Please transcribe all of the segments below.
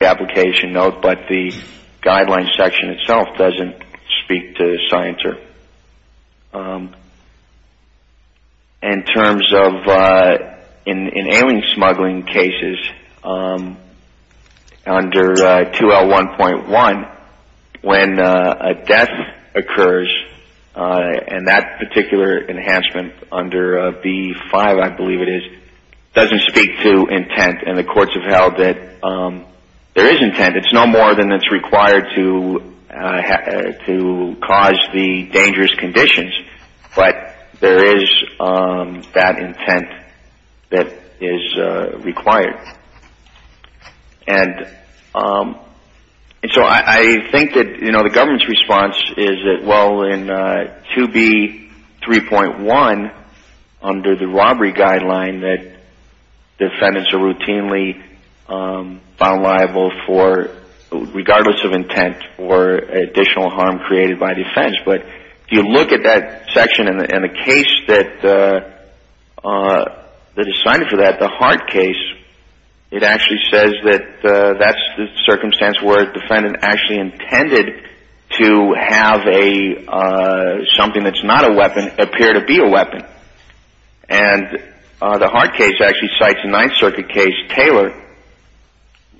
application note but the guidelines section itself doesn't speak to Scienter. In terms of in ailing smuggling cases under 2L1.1 when a death occurs and that particular enhancement under B5 I believe it is doesn't speak to intent and the courts have held that there is intent. It's no more than it's required to cause the dangerous conditions but there is that intent that is required. And so I think that you know the government's response is that well in 2B.3.1 under the robbery guideline that defendants are routinely found liable for regardless of intent or additional harm created by the offense but if you look at that section in the case that is cited for that, the Hart case, it actually says that that's the circumstance where a defendant actually intended to have a something that's not a weapon appear to be a weapon. And the Hart case actually cites a Ninth Circuit case, Taylor,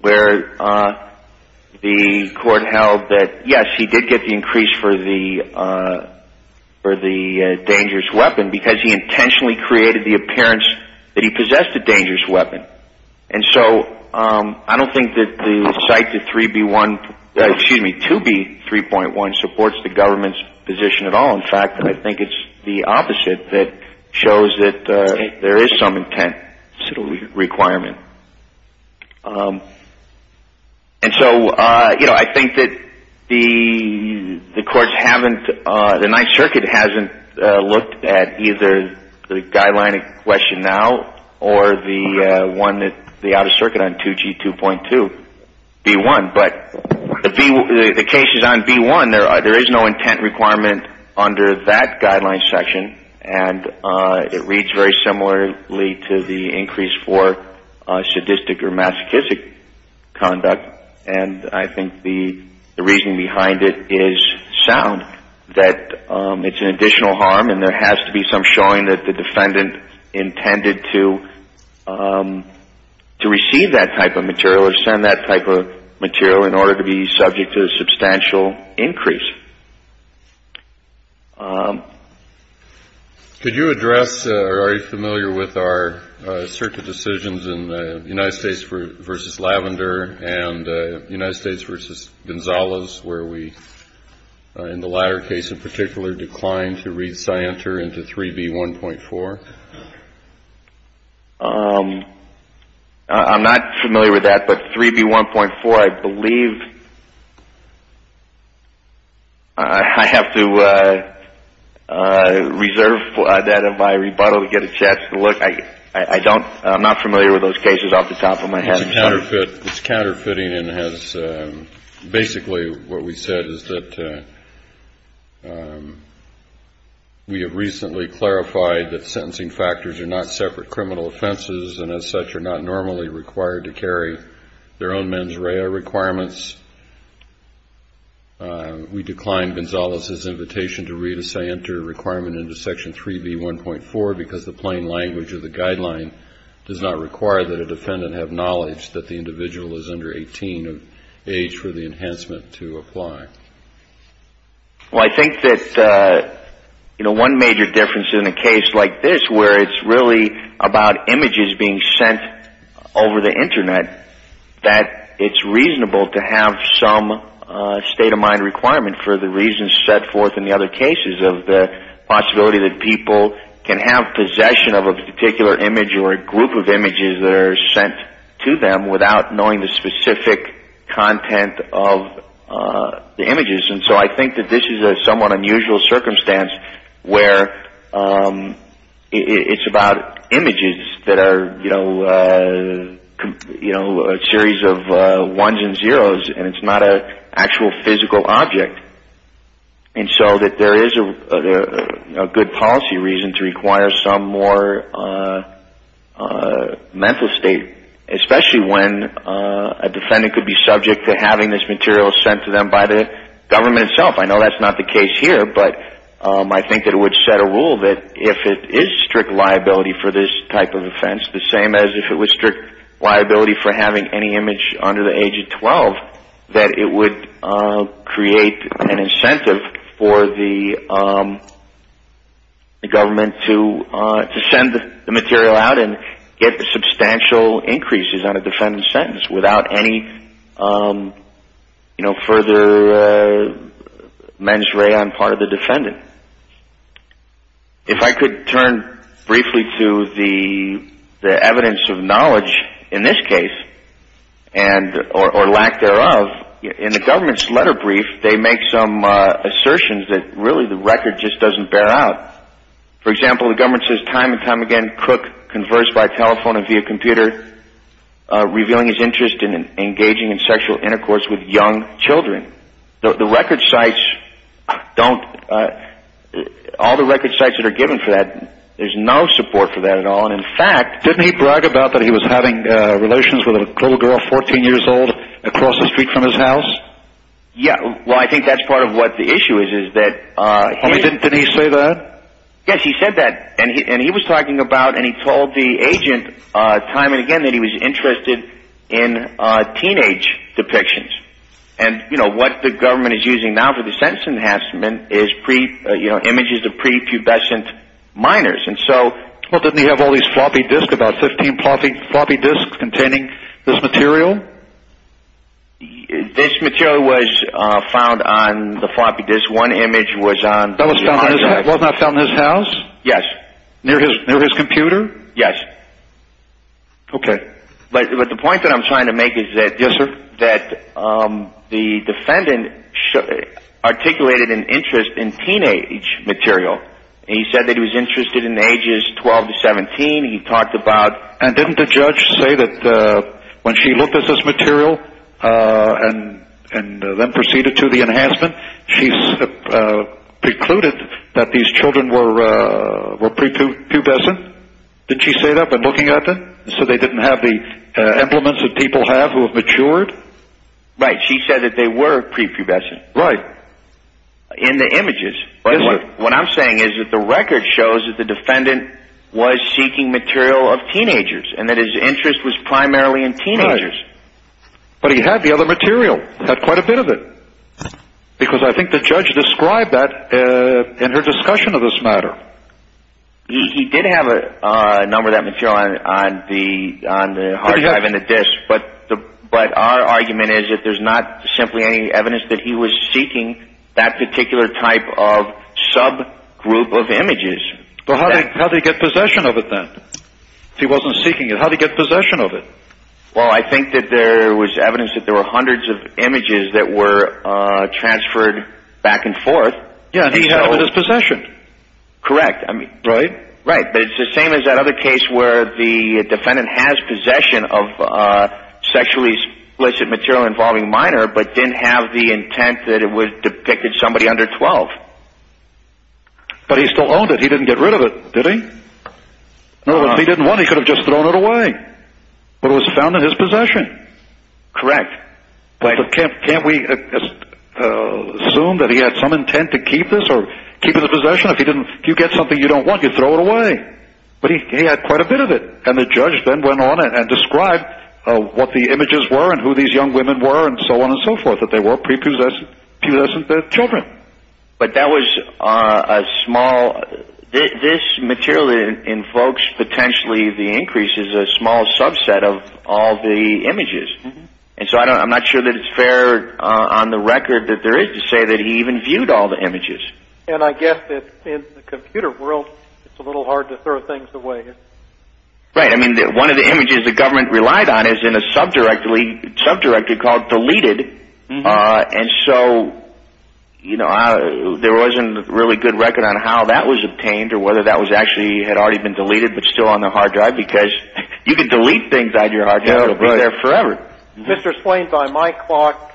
where the court held that yes he did get the increase for the dangerous weapon because he intentionally created the appearance that he possessed a dangerous weapon and so I don't think that the cite to 3B.1, excuse me, 2B.3.1 supports the government's position at all. In fact, I think it's the opposite that shows that there is some intent requirement. And so you know I think that the courts haven't, the Ninth Circuit hasn't looked at either the guideline in question now or the one that the Outer Circuit on 2G.2.2.1. But the case is on B.1. There is no intent requirement under that guideline section and it reads very similarly to the increase for sadistic or masochistic conduct and I think the reason behind it is sound. That it's an additional harm and there has to be some showing that the court has to, to receive that type of material or send that type of material in order to be subject to a substantial increase. Could you address, or are you familiar with our circuit decisions in the United States v. Lavender and United States v. Gonzales where we, in the latter case in particular, declined to re-scienter into 3B.1.4? I'm not familiar with that, but 3B.1.4 I believe I have to reserve that in my rebuttal to get a chance to look. I don't, I'm not familiar with those cases off the top of my head. It's counterfeiting and has, basically what we said is that we have recently clarified that sentencing factors are not separate criminal offenses and as such are not normally required to carry their own mens rea requirements. We declined Gonzales' invitation to re-scienter requirement into section 3B.1.4 because the individual is under 18 of age for the enhancement to apply. Well, I think that, you know, one major difference in a case like this where it's really about images being sent over the internet, that it's reasonable to have some state of mind requirement for the reasons set forth in the other cases of the possibility that people can have possession of a particular image or a circumstance to them without knowing the specific content of the images. And so I think that this is a somewhat unusual circumstance where it's about images that are, you know, a series of ones and zeros and it's not an actual physical object. And so that there is a good policy reason to require some more mental state, especially when a defendant could be subject to having this material sent to them by the government itself. I know that's not the case here, but I think that it would set a rule that if it is strict liability for this type of offense, the same as if it was strict liability for having any image under the age of 12, that it would create an incentive for the government to send the material out and get substantial increases on a defendant's sentence without any, you know, further mens rea on part of the defendant. If I could turn briefly to the evidence of knowledge in this case, or lack thereof, in the government's letter brief, they make some assertions that really the record just doesn't bear out. For example, the record says that the defendant was on the phone and via computer revealing his interest in engaging in sexual intercourse with young children. The record sites don't, all the record sites that are given for that, there's no support for that at all. And in fact, didn't he brag about that he was having relations with a cool girl, 14 years old, across the street from his house? Yeah, well, I think that's part of what the issue is, is that... time and again that he was interested in teenage depictions. And, you know, what the government is using now for the sentence enhancement is images of prepubescent minors. And so... Well, didn't he have all these floppy disks, about 15 floppy disks, containing this material? This material was found on the floppy disk. One image was on... That was found in his house? Yes. Near his computer? Yes. Okay. But the point that I'm trying to make is that... Yes, sir? That the defendant articulated an interest in teenage material. He said that he was interested in ages 12 to 17. He talked about... And didn't the judge say that when she looked at this material and then proceeded to the enhancement, she precluded that these children were prepubescent? Did she say that by looking at them? So they didn't have the implements that people have who have matured? Right. She said that they were prepubescent. Right. In the images. What I'm saying is that the record shows that the defendant was seeking material of teenagers, and that his interest was primarily in teenagers. But he had the other material. He had quite a bit of it. Because I think the judge described that in her discussion of this matter. He did have a number of that material on the hard drive and the disc. But our argument is that there's not simply any evidence that he was seeking that particular type of subgroup of images. How did he get possession of it then? If he wasn't seeking it, how did he get possession of it? Well, I think that there was evidence that there were hundreds of images that were transferred back and forth. Yeah, and he held it as possession. Correct. Right? Right. But it's the same as that other case where the defendant has possession of sexually explicit material involving a minor, but didn't have the intent that it depicted somebody under 12. But he still owned it. He didn't get rid of it, did he? If he didn't want it, he could have just thrown it away. But it was found in his possession. Correct. Can't we assume that he had some intent to keep this or keep it in possession? If you get something you don't want, you throw it away. But he had quite a bit of it. And the judge then went on and described what the images were and who these young women were and so on and so forth, that they were prepossessed children. But that was a small – this material invokes potentially the increase as a small subset of all the images. And so I'm not sure that it's fair on the record that there is to say that he even viewed all the images. And I guess that in the computer world, it's a little hard to throw things away, isn't it? Right. I mean, one of the images the government relied on is in a subdirectory called deleted. And so there wasn't a really good record on how that was obtained or whether that actually had already been deleted but still on the hard drive because you could delete things out of your hard drive and it wouldn't be a good record. Mr. Slane, by my clock,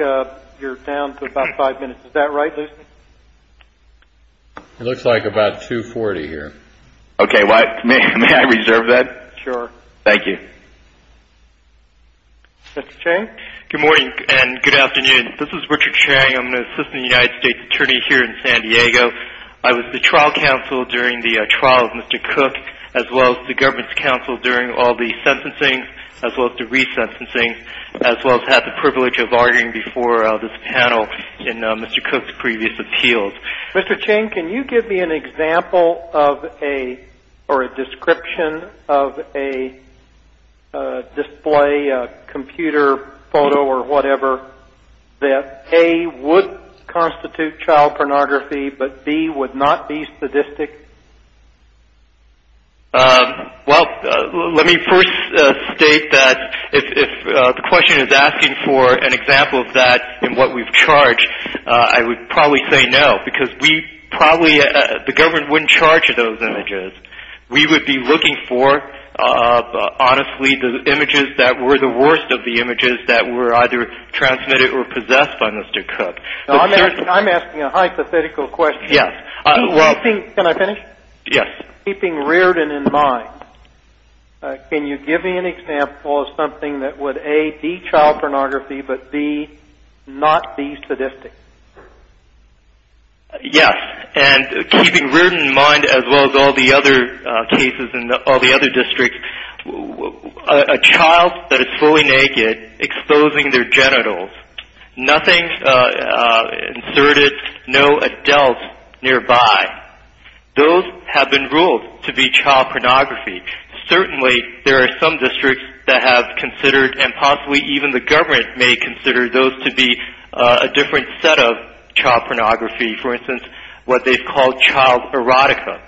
you're down to about five minutes. Is that right, Lucy? It looks like about 2.40 here. Okay. May I reserve that? Sure. Thank you. Mr. Chang? Good morning and good afternoon. This is Richard Chang. I'm an assistant United States attorney here in San Diego. I was the trial counsel during the trial of Mr. Cook as well as the privilege of arguing before this panel in Mr. Cook's previous appeals. Mr. Chang, can you give me an example of a description of a display, computer photo or whatever that, A, would constitute child pornography but, B, would not be sadistic? Well, let me first state that if the question is asking for an example of that in what we've charged, I would probably say no because we probably, the government wouldn't charge those images. We would be looking for, honestly, the images that were the worst of the images that were either transmitted or possessed by Mr. Cook. I'm asking a hypothetical question. Yes. Can I finish? Yes. Keeping Reardon in mind, can you give me an example of something that would, A, be child pornography but, B, not be sadistic? Yes. And keeping Reardon in mind as well as all the other cases in all the other districts, a child that is fully naked exposing their genitals, nothing inserted, no adult nearby, those have been ruled to be child pornography. Certainly there are some districts that have considered and possibly even the government may consider those to be a different set of child pornography. For instance, what they've called child erotica.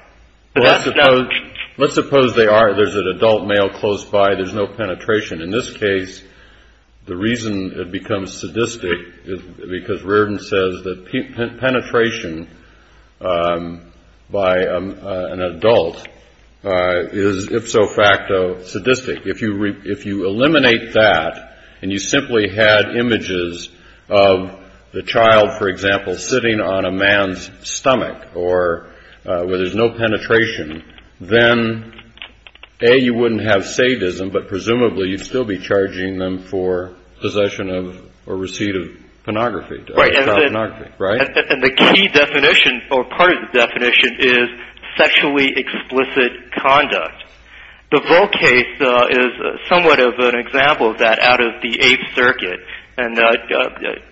Let's suppose they are. There's an adult male close by. There's no penetration. In this case, the reason it becomes sadistic is because Reardon says that penetration by an adult is, if so facto, sadistic. If you eliminate that and you simply had images of the child, for example, sitting on a man's stomach or where there's no penetration, then, A, you presumably would still be charging them for possession of or receipt of pornography, child pornography, right? Right. And the key definition or part of the definition is sexually explicit conduct. The Volk case is somewhat of an example of that out of the Eighth Circuit. And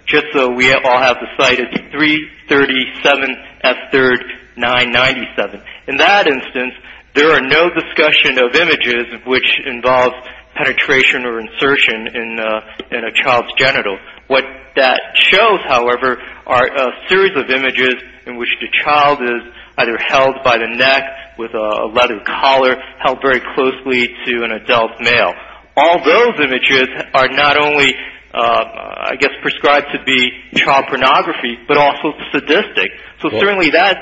just so we all have the site, it's 337 F. 3rd 997. In that instance, there are no discussion of images which involve penetration or insertion in a child's genital. What that shows, however, are a series of images in which the child is either held by the neck with a leather collar, held very closely to an adult male. All those images are not only, I guess, prescribed to be child pornography, but also sadistic. So, certainly, that's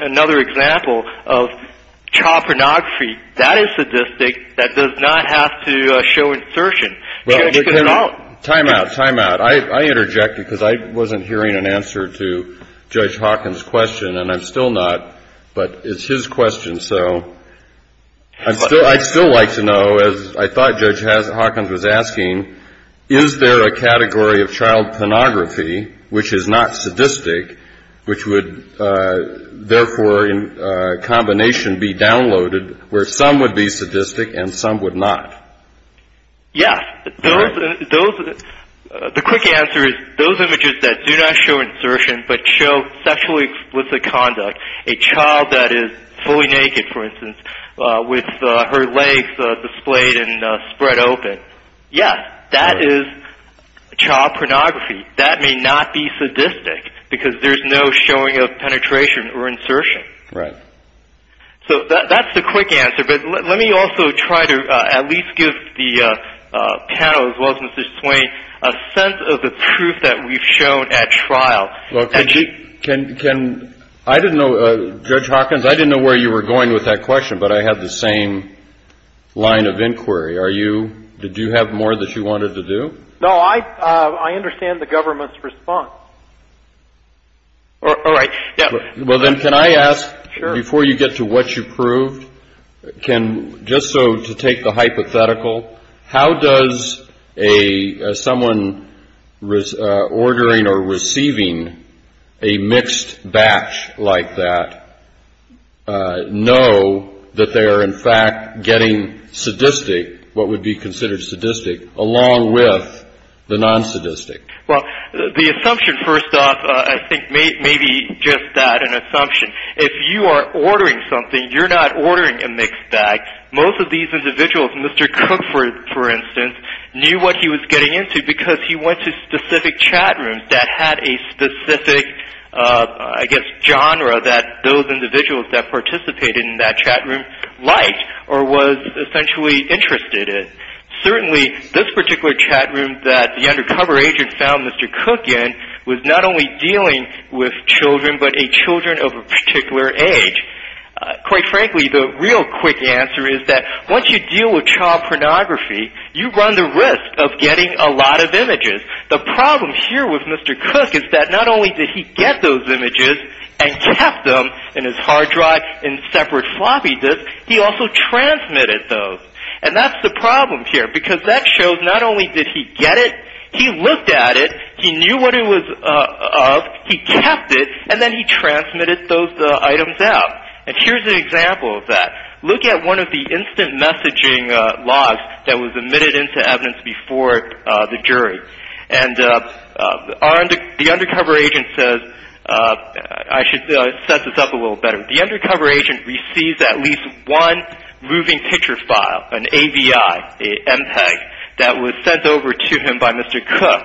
another example of child pornography. That is sadistic. That does not have to show insertion. Time out. Time out. I interjected because I wasn't hearing an answer to Judge Hawkins' question, and I'm still not, but it's his question, so I'd still like to know, as I thought Judge Hawkins was asking, is there a category of child pornography which is not sadistic, which would, therefore, in combination be downloaded, where some would be sadistic and some would not? Yes. The quick answer is those images that do not show insertion but show sexually explicit conduct, a child that is fully naked, for instance, with her legs displayed and spread open, yes, that is child pornography. That may not be sadistic because there's no showing of penetration or insertion. Right. So that's the quick answer, but let me also try to at least give the panel, as well as Mr. Swain, a sense of the proof that we've shown at trial. Judge Hawkins, I didn't know where you were going with that question, but I have the same line of inquiry. Did you have more that you wanted to do? No, I understand the government's response. All right. Well, then, can I ask, before you get to what you proved, just so to take the hypothetical, how does someone ordering or receiving a mixed batch like that know that they are, in fact, getting sadistic, what would be considered sadistic, along with the non-sadistic? Well, the assumption, first off, I think may be just that, an assumption. If you are ordering something, you're not ordering a mixed bag. Most of these individuals, Mr. Cook, for instance, knew what he was getting into because he went to specific chat rooms that had a specific, I guess, a specific genre that those individuals that participated in that chat room liked or was essentially interested in. Certainly, this particular chat room that the undercover agent found Mr. Cook in was not only dealing with children, but a children of a particular age. Quite frankly, the real quick answer is that once you deal with child pornography, you run the risk of getting a lot of images. The problem here with Mr. Cook is that not only did he get those images and kept them in his hard drive in separate floppy disks, he also transmitted those. And that's the problem here because that shows not only did he get it, he looked at it, he knew what it was of, he kept it, and then he transmitted those items out. And here's an example of that. Look at one of the instant messaging logs that was admitted into evidence before the jury. And the undercover agent says, I should set this up a little better. The undercover agent receives at least one moving picture file, an AVI, an MPEG, that was sent over to him by Mr. Cook.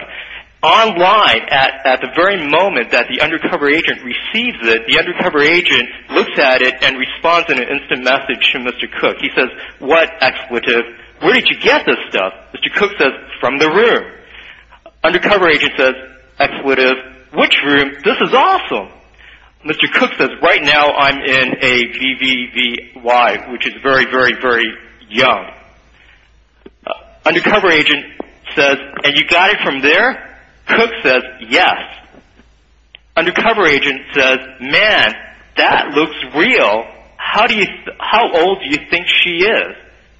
Online, at the very moment that the undercover agent receives it, the undercover agent looks at it and responds in an instant message to Mr. Cook. He says, what, expletive, where did you get this stuff? Mr. Cook says, from the room. Undercover agent says, expletive, which room? This is awesome. Mr. Cook says, right now I'm in a VVVY, which is very, very, very young. Undercover agent says, and you got it from there? Cook says, yes. Undercover agent says, man, that looks real. How old do you think she is?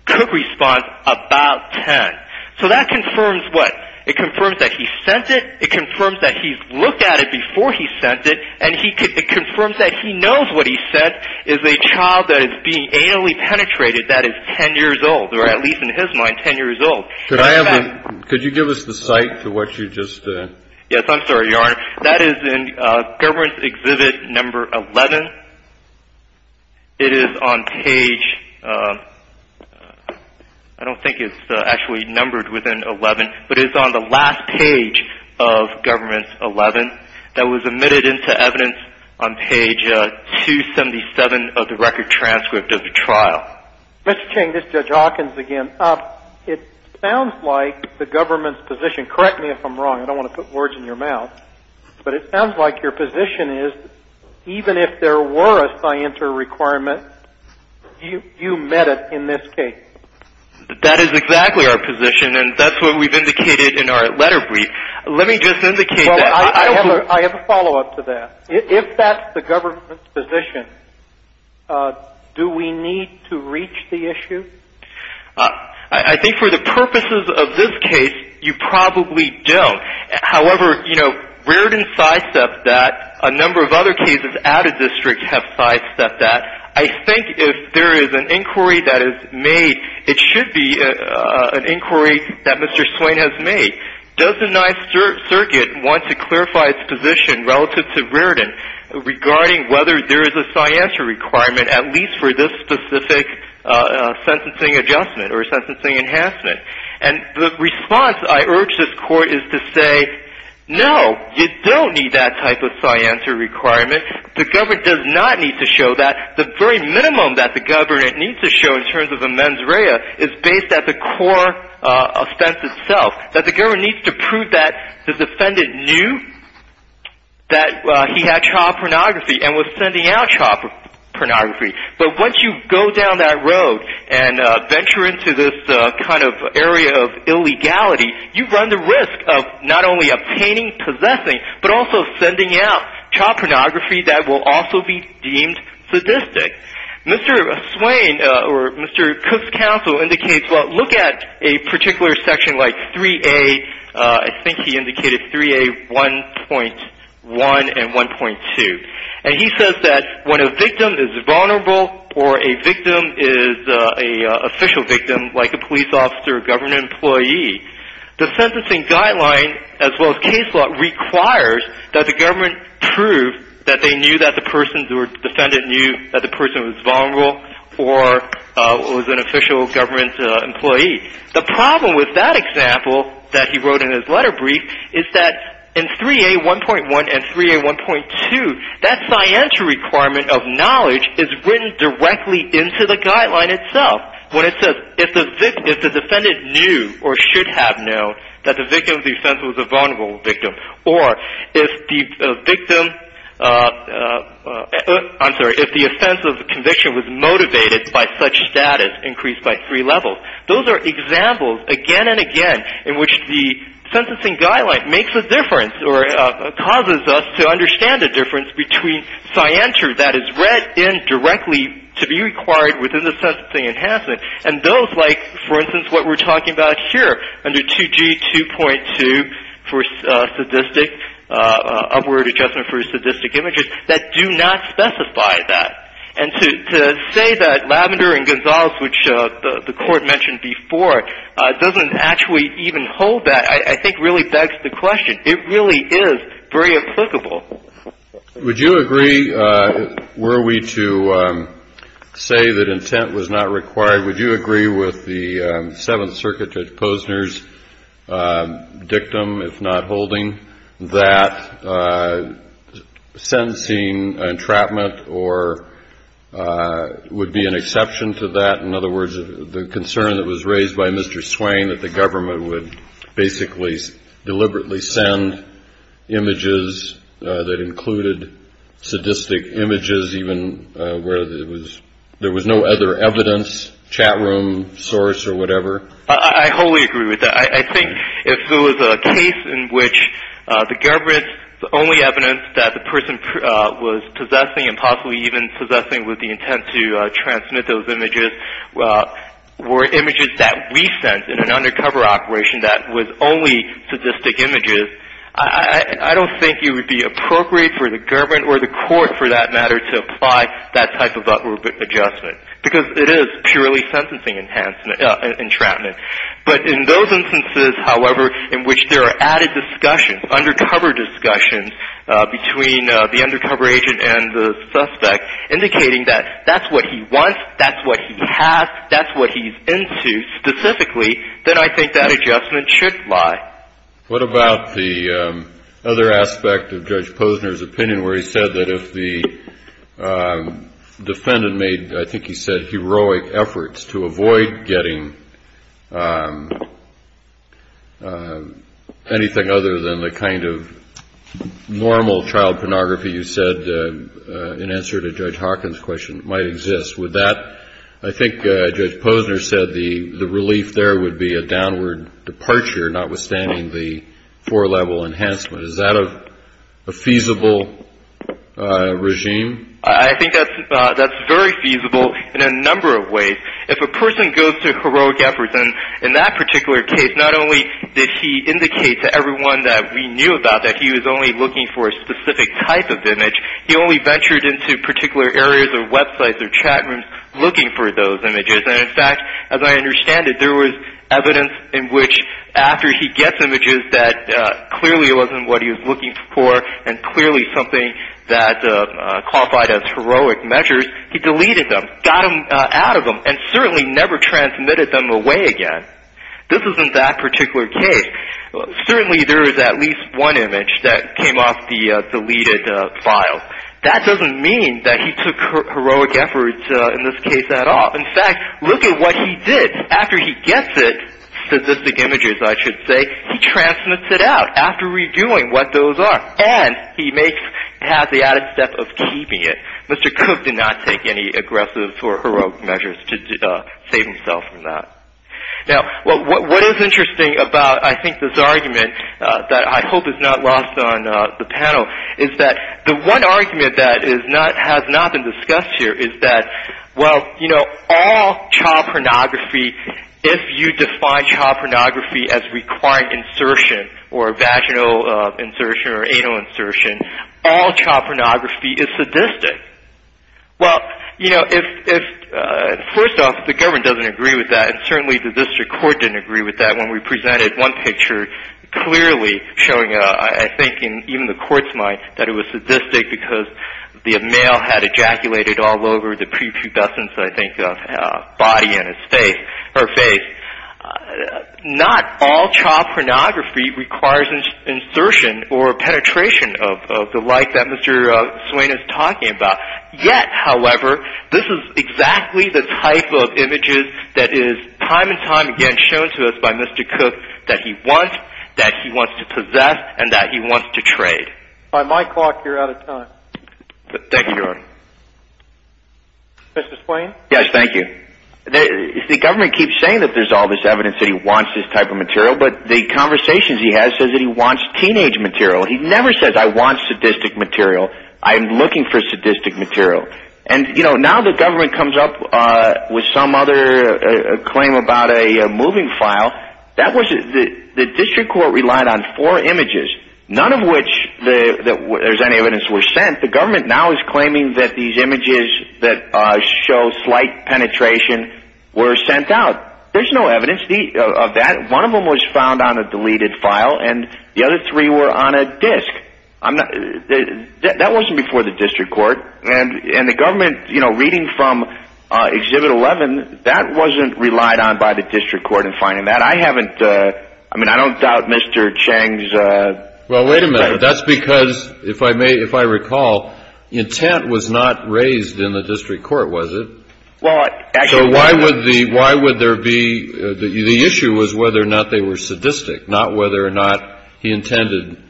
Cook responds, about 10. So that confirms what? It confirms that he sent it. It confirms that he's looked at it before he sent it. And it confirms that he knows what he sent is a child that is being anally penetrated that is 10 years old, or at least in his mind 10 years old. Could you give us the site for what you just said? Yes, I'm sorry, Your Honor. That is in government exhibit number 11. It is on page, I don't think it's actually numbered within 11, but it's on the last page of government 11 that was admitted into evidence on page 277 of the record transcript of the trial. Mr. Ching, this is Judge Hawkins again. It sounds like the government's position, correct me if I'm wrong, I don't want to put words in your mouth, but it sounds like your position is even if there were a scienter requirement, you met it in this case. That is exactly our position, and that's what we've indicated in our letter brief. Let me just indicate that. I have a follow-up to that. If that's the government's position, do we need to reach the issue? I think for the purposes of this case, you probably don't. However, you know, Reardon sidestepped that. A number of other cases out of this district have sidestepped that. I think if there is an inquiry that is made, it should be an inquiry that Mr. Swain has made. Does the Ninth Circuit want to clarify its position relative to Reardon regarding whether there is a scienter requirement at least for this specific sentencing adjustment or sentencing enhancement? And the response I urge this Court is to say, no, you don't need that type of scienter requirement. The government does not need to show that. The very minimum that the government needs to show in terms of amends rea is based at the core offense itself. That the government needs to prove that the defendant knew that he had child pornography and was sending out child pornography. But once you go down that road and venture into this kind of area of illegality, you run the risk of not only obtaining, possessing, but also sending out child pornography that will also be deemed sadistic. Mr. Swain or Mr. Cook's counsel indicates, well, look at a particular section like 3A, I think he indicated 3A 1.1 and 1.2. And he says that when a victim is vulnerable or a victim is an official victim, like a police officer or government employee, the sentencing guideline as well as case law requires that the government prove that they knew that the person or defendant knew that the person was vulnerable or was an official government employee. The problem with that example that he wrote in his letter brief is that in 3A 1.1 and 3A 1.2, that scienter requirement of knowledge is written directly into the guideline itself. When it says, if the defendant knew or should have known that the victim of the offense was a vulnerable victim, or if the offense of conviction was motivated by such status increased by three levels, those are examples again and again in which the sentencing guideline makes a difference or causes us to understand the difference between scienter that is read in directly to be required within the sentencing enhancement and those like, for instance, what we're talking about here under 2G 2.2 for sadistic, upward adjustment for sadistic images, that do not specify that. And to say that Lavender and Gonzales, which the Court mentioned before, doesn't actually even hold that, I think really begs the question. It really is very applicable. Would you agree, were we to say that intent was not required, would you agree with the Seventh Circuit Judge Posner's dictum, if not holding, that sentencing entrapment would be an exception to that? In other words, the concern that was raised by Mr. Swain, that the government would basically deliberately send images that included sadistic images, even where there was no other evidence, chat room source or whatever? I wholly agree with that. I think if there was a case in which the government's only evidence that the person was possessing and possibly even possessing with the intent to transmit those images were images that we sent in an undercover operation that was only sadistic images, I don't think it would be appropriate for the government or the Court, for that matter, to apply that type of upward adjustment, because it is purely sentencing entrapment. But in those instances, however, in which there are added discussions, between the undercover agent and the suspect, indicating that that's what he wants, that's what he has, that's what he's into specifically, then I think that adjustment should lie. What about the other aspect of Judge Posner's opinion where he said that if the defendant made, I think he said, heroic efforts to avoid getting anything other than the kind of normal child pornography you said in answer to Judge Hawkins' question might exist. Would that, I think Judge Posner said, the relief there would be a downward departure, notwithstanding the four-level enhancement. Is that a feasible regime? I think that's very feasible in a number of ways. If a person goes to heroic efforts, and in that particular case, not only did he indicate to everyone that we knew about that he was only looking for a specific type of image, he only ventured into particular areas or websites or chat rooms looking for those images. And in fact, as I understand it, there was evidence in which after he gets images that clearly wasn't what he was looking for and clearly something that qualified as heroic measures, he deleted them, got them out of them, and certainly never transmitted them away again. This is in that particular case. Certainly there is at least one image that came off the deleted file. That doesn't mean that he took heroic efforts in this case at all. In fact, look at what he did. After he gets it, specific images I should say, he transmits it out after redoing what those are, and he has the added step of keeping it. Mr. Cook did not take any aggressive or heroic measures to save himself from that. Now, what is interesting about, I think, this argument that I hope is not lost on the panel is that the one argument that has not been discussed here is that, well, you know, all child pornography, if you define child pornography as required insertion or vaginal insertion or anal insertion, all child pornography is sadistic. Well, you know, first off, the government doesn't agree with that, and certainly the district court didn't agree with that when we presented one picture clearly showing, I think, in even the court's mind that it was sadistic because the male had ejaculated all over the prepubescent, I think, body and his face, her face. Not all child pornography requires insertion or penetration of the like that Mr. Swain is talking about. Yet, however, this is exactly the type of images that is time and time again shown to us by Mr. Cook that he wants, that he wants to possess, and that he wants to trade. By my clock, you're out of time. Thank you, Your Honor. Mr. Swain? Yes, thank you. The government keeps saying that there's all this evidence that he wants this type of material, but the conversations he has says that he wants teenage material. He never says, I want sadistic material. I'm looking for sadistic material. And, you know, now the government comes up with some other claim about a moving file. Now, the district court relied on four images, none of which there's any evidence were sent. The government now is claiming that these images that show slight penetration were sent out. There's no evidence of that. One of them was found on a deleted file, and the other three were on a disk. That wasn't before the district court, and the government, you know, reading from Exhibit 11, that wasn't relied on by the district court in finding that. I haven't – I mean, I don't doubt Mr. Chang's – Well, wait a minute. That's because, if I recall, intent was not raised in the district court, was it? Well, actually – So why would there be – the issue was whether or not they were sadistic, not whether or not he intended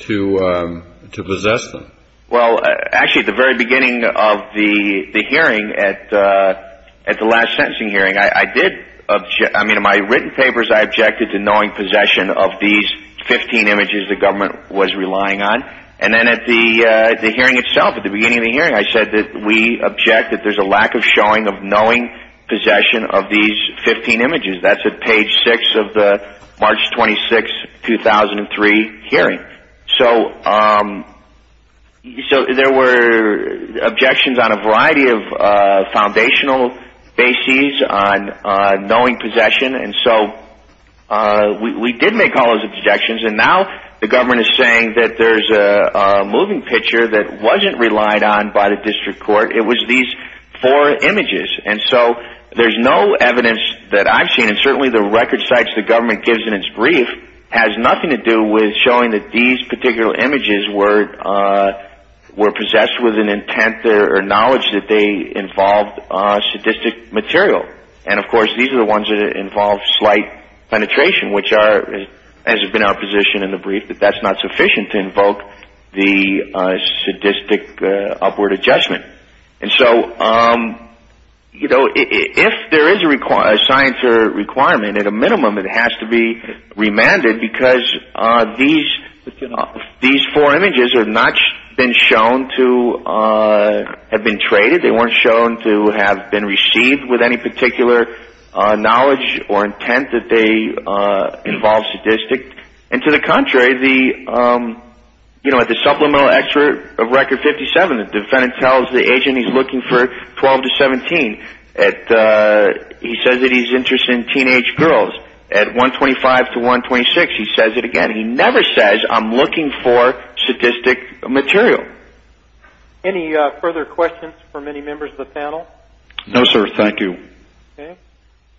to possess them. Well, actually, at the very beginning of the hearing, at the last sentencing hearing, I did – I mean, in my written papers, I objected to knowing possession of these 15 images the government was relying on. And then at the hearing itself, at the beginning of the hearing, I said that we object that there's a lack of showing of knowing possession of these 15 images. That's at page 6 of the March 26, 2003 hearing. So there were objections on a variety of foundational bases on knowing possession. And so we did make all those objections. And now the government is saying that there's a moving picture that wasn't relied on by the district court. It was these four images. And certainly the record sites the government gives in its brief has nothing to do with showing that these particular images were possessed with an intent or knowledge that they involved sadistic material. And, of course, these are the ones that involve slight penetration, which are, as has been our position in the brief, that that's not sufficient to invoke the sadistic upward adjustment. And so, you know, if there is a science requirement, at a minimum it has to be remanded because these four images have not been shown to have been traded. They weren't shown to have been received with any particular knowledge or intent that they involved sadistic. And to the contrary, you know, at the supplemental record 57, the defendant tells the agent he's looking for 12 to 17. He says that he's interested in teenage girls. At 125 to 126, he says it again. He never says, I'm looking for sadistic material. Any further questions from any members of the panel? No, sir. Thank you.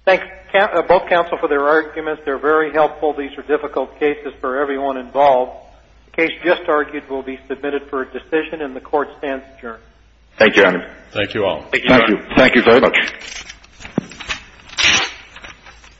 Both counsel for their arguments. They're very helpful. These are difficult cases for everyone involved. The case just argued will be submitted for a decision, and the court stands adjourned. Thank you, Your Honor. Thank you all. Thank you. Thank you very much.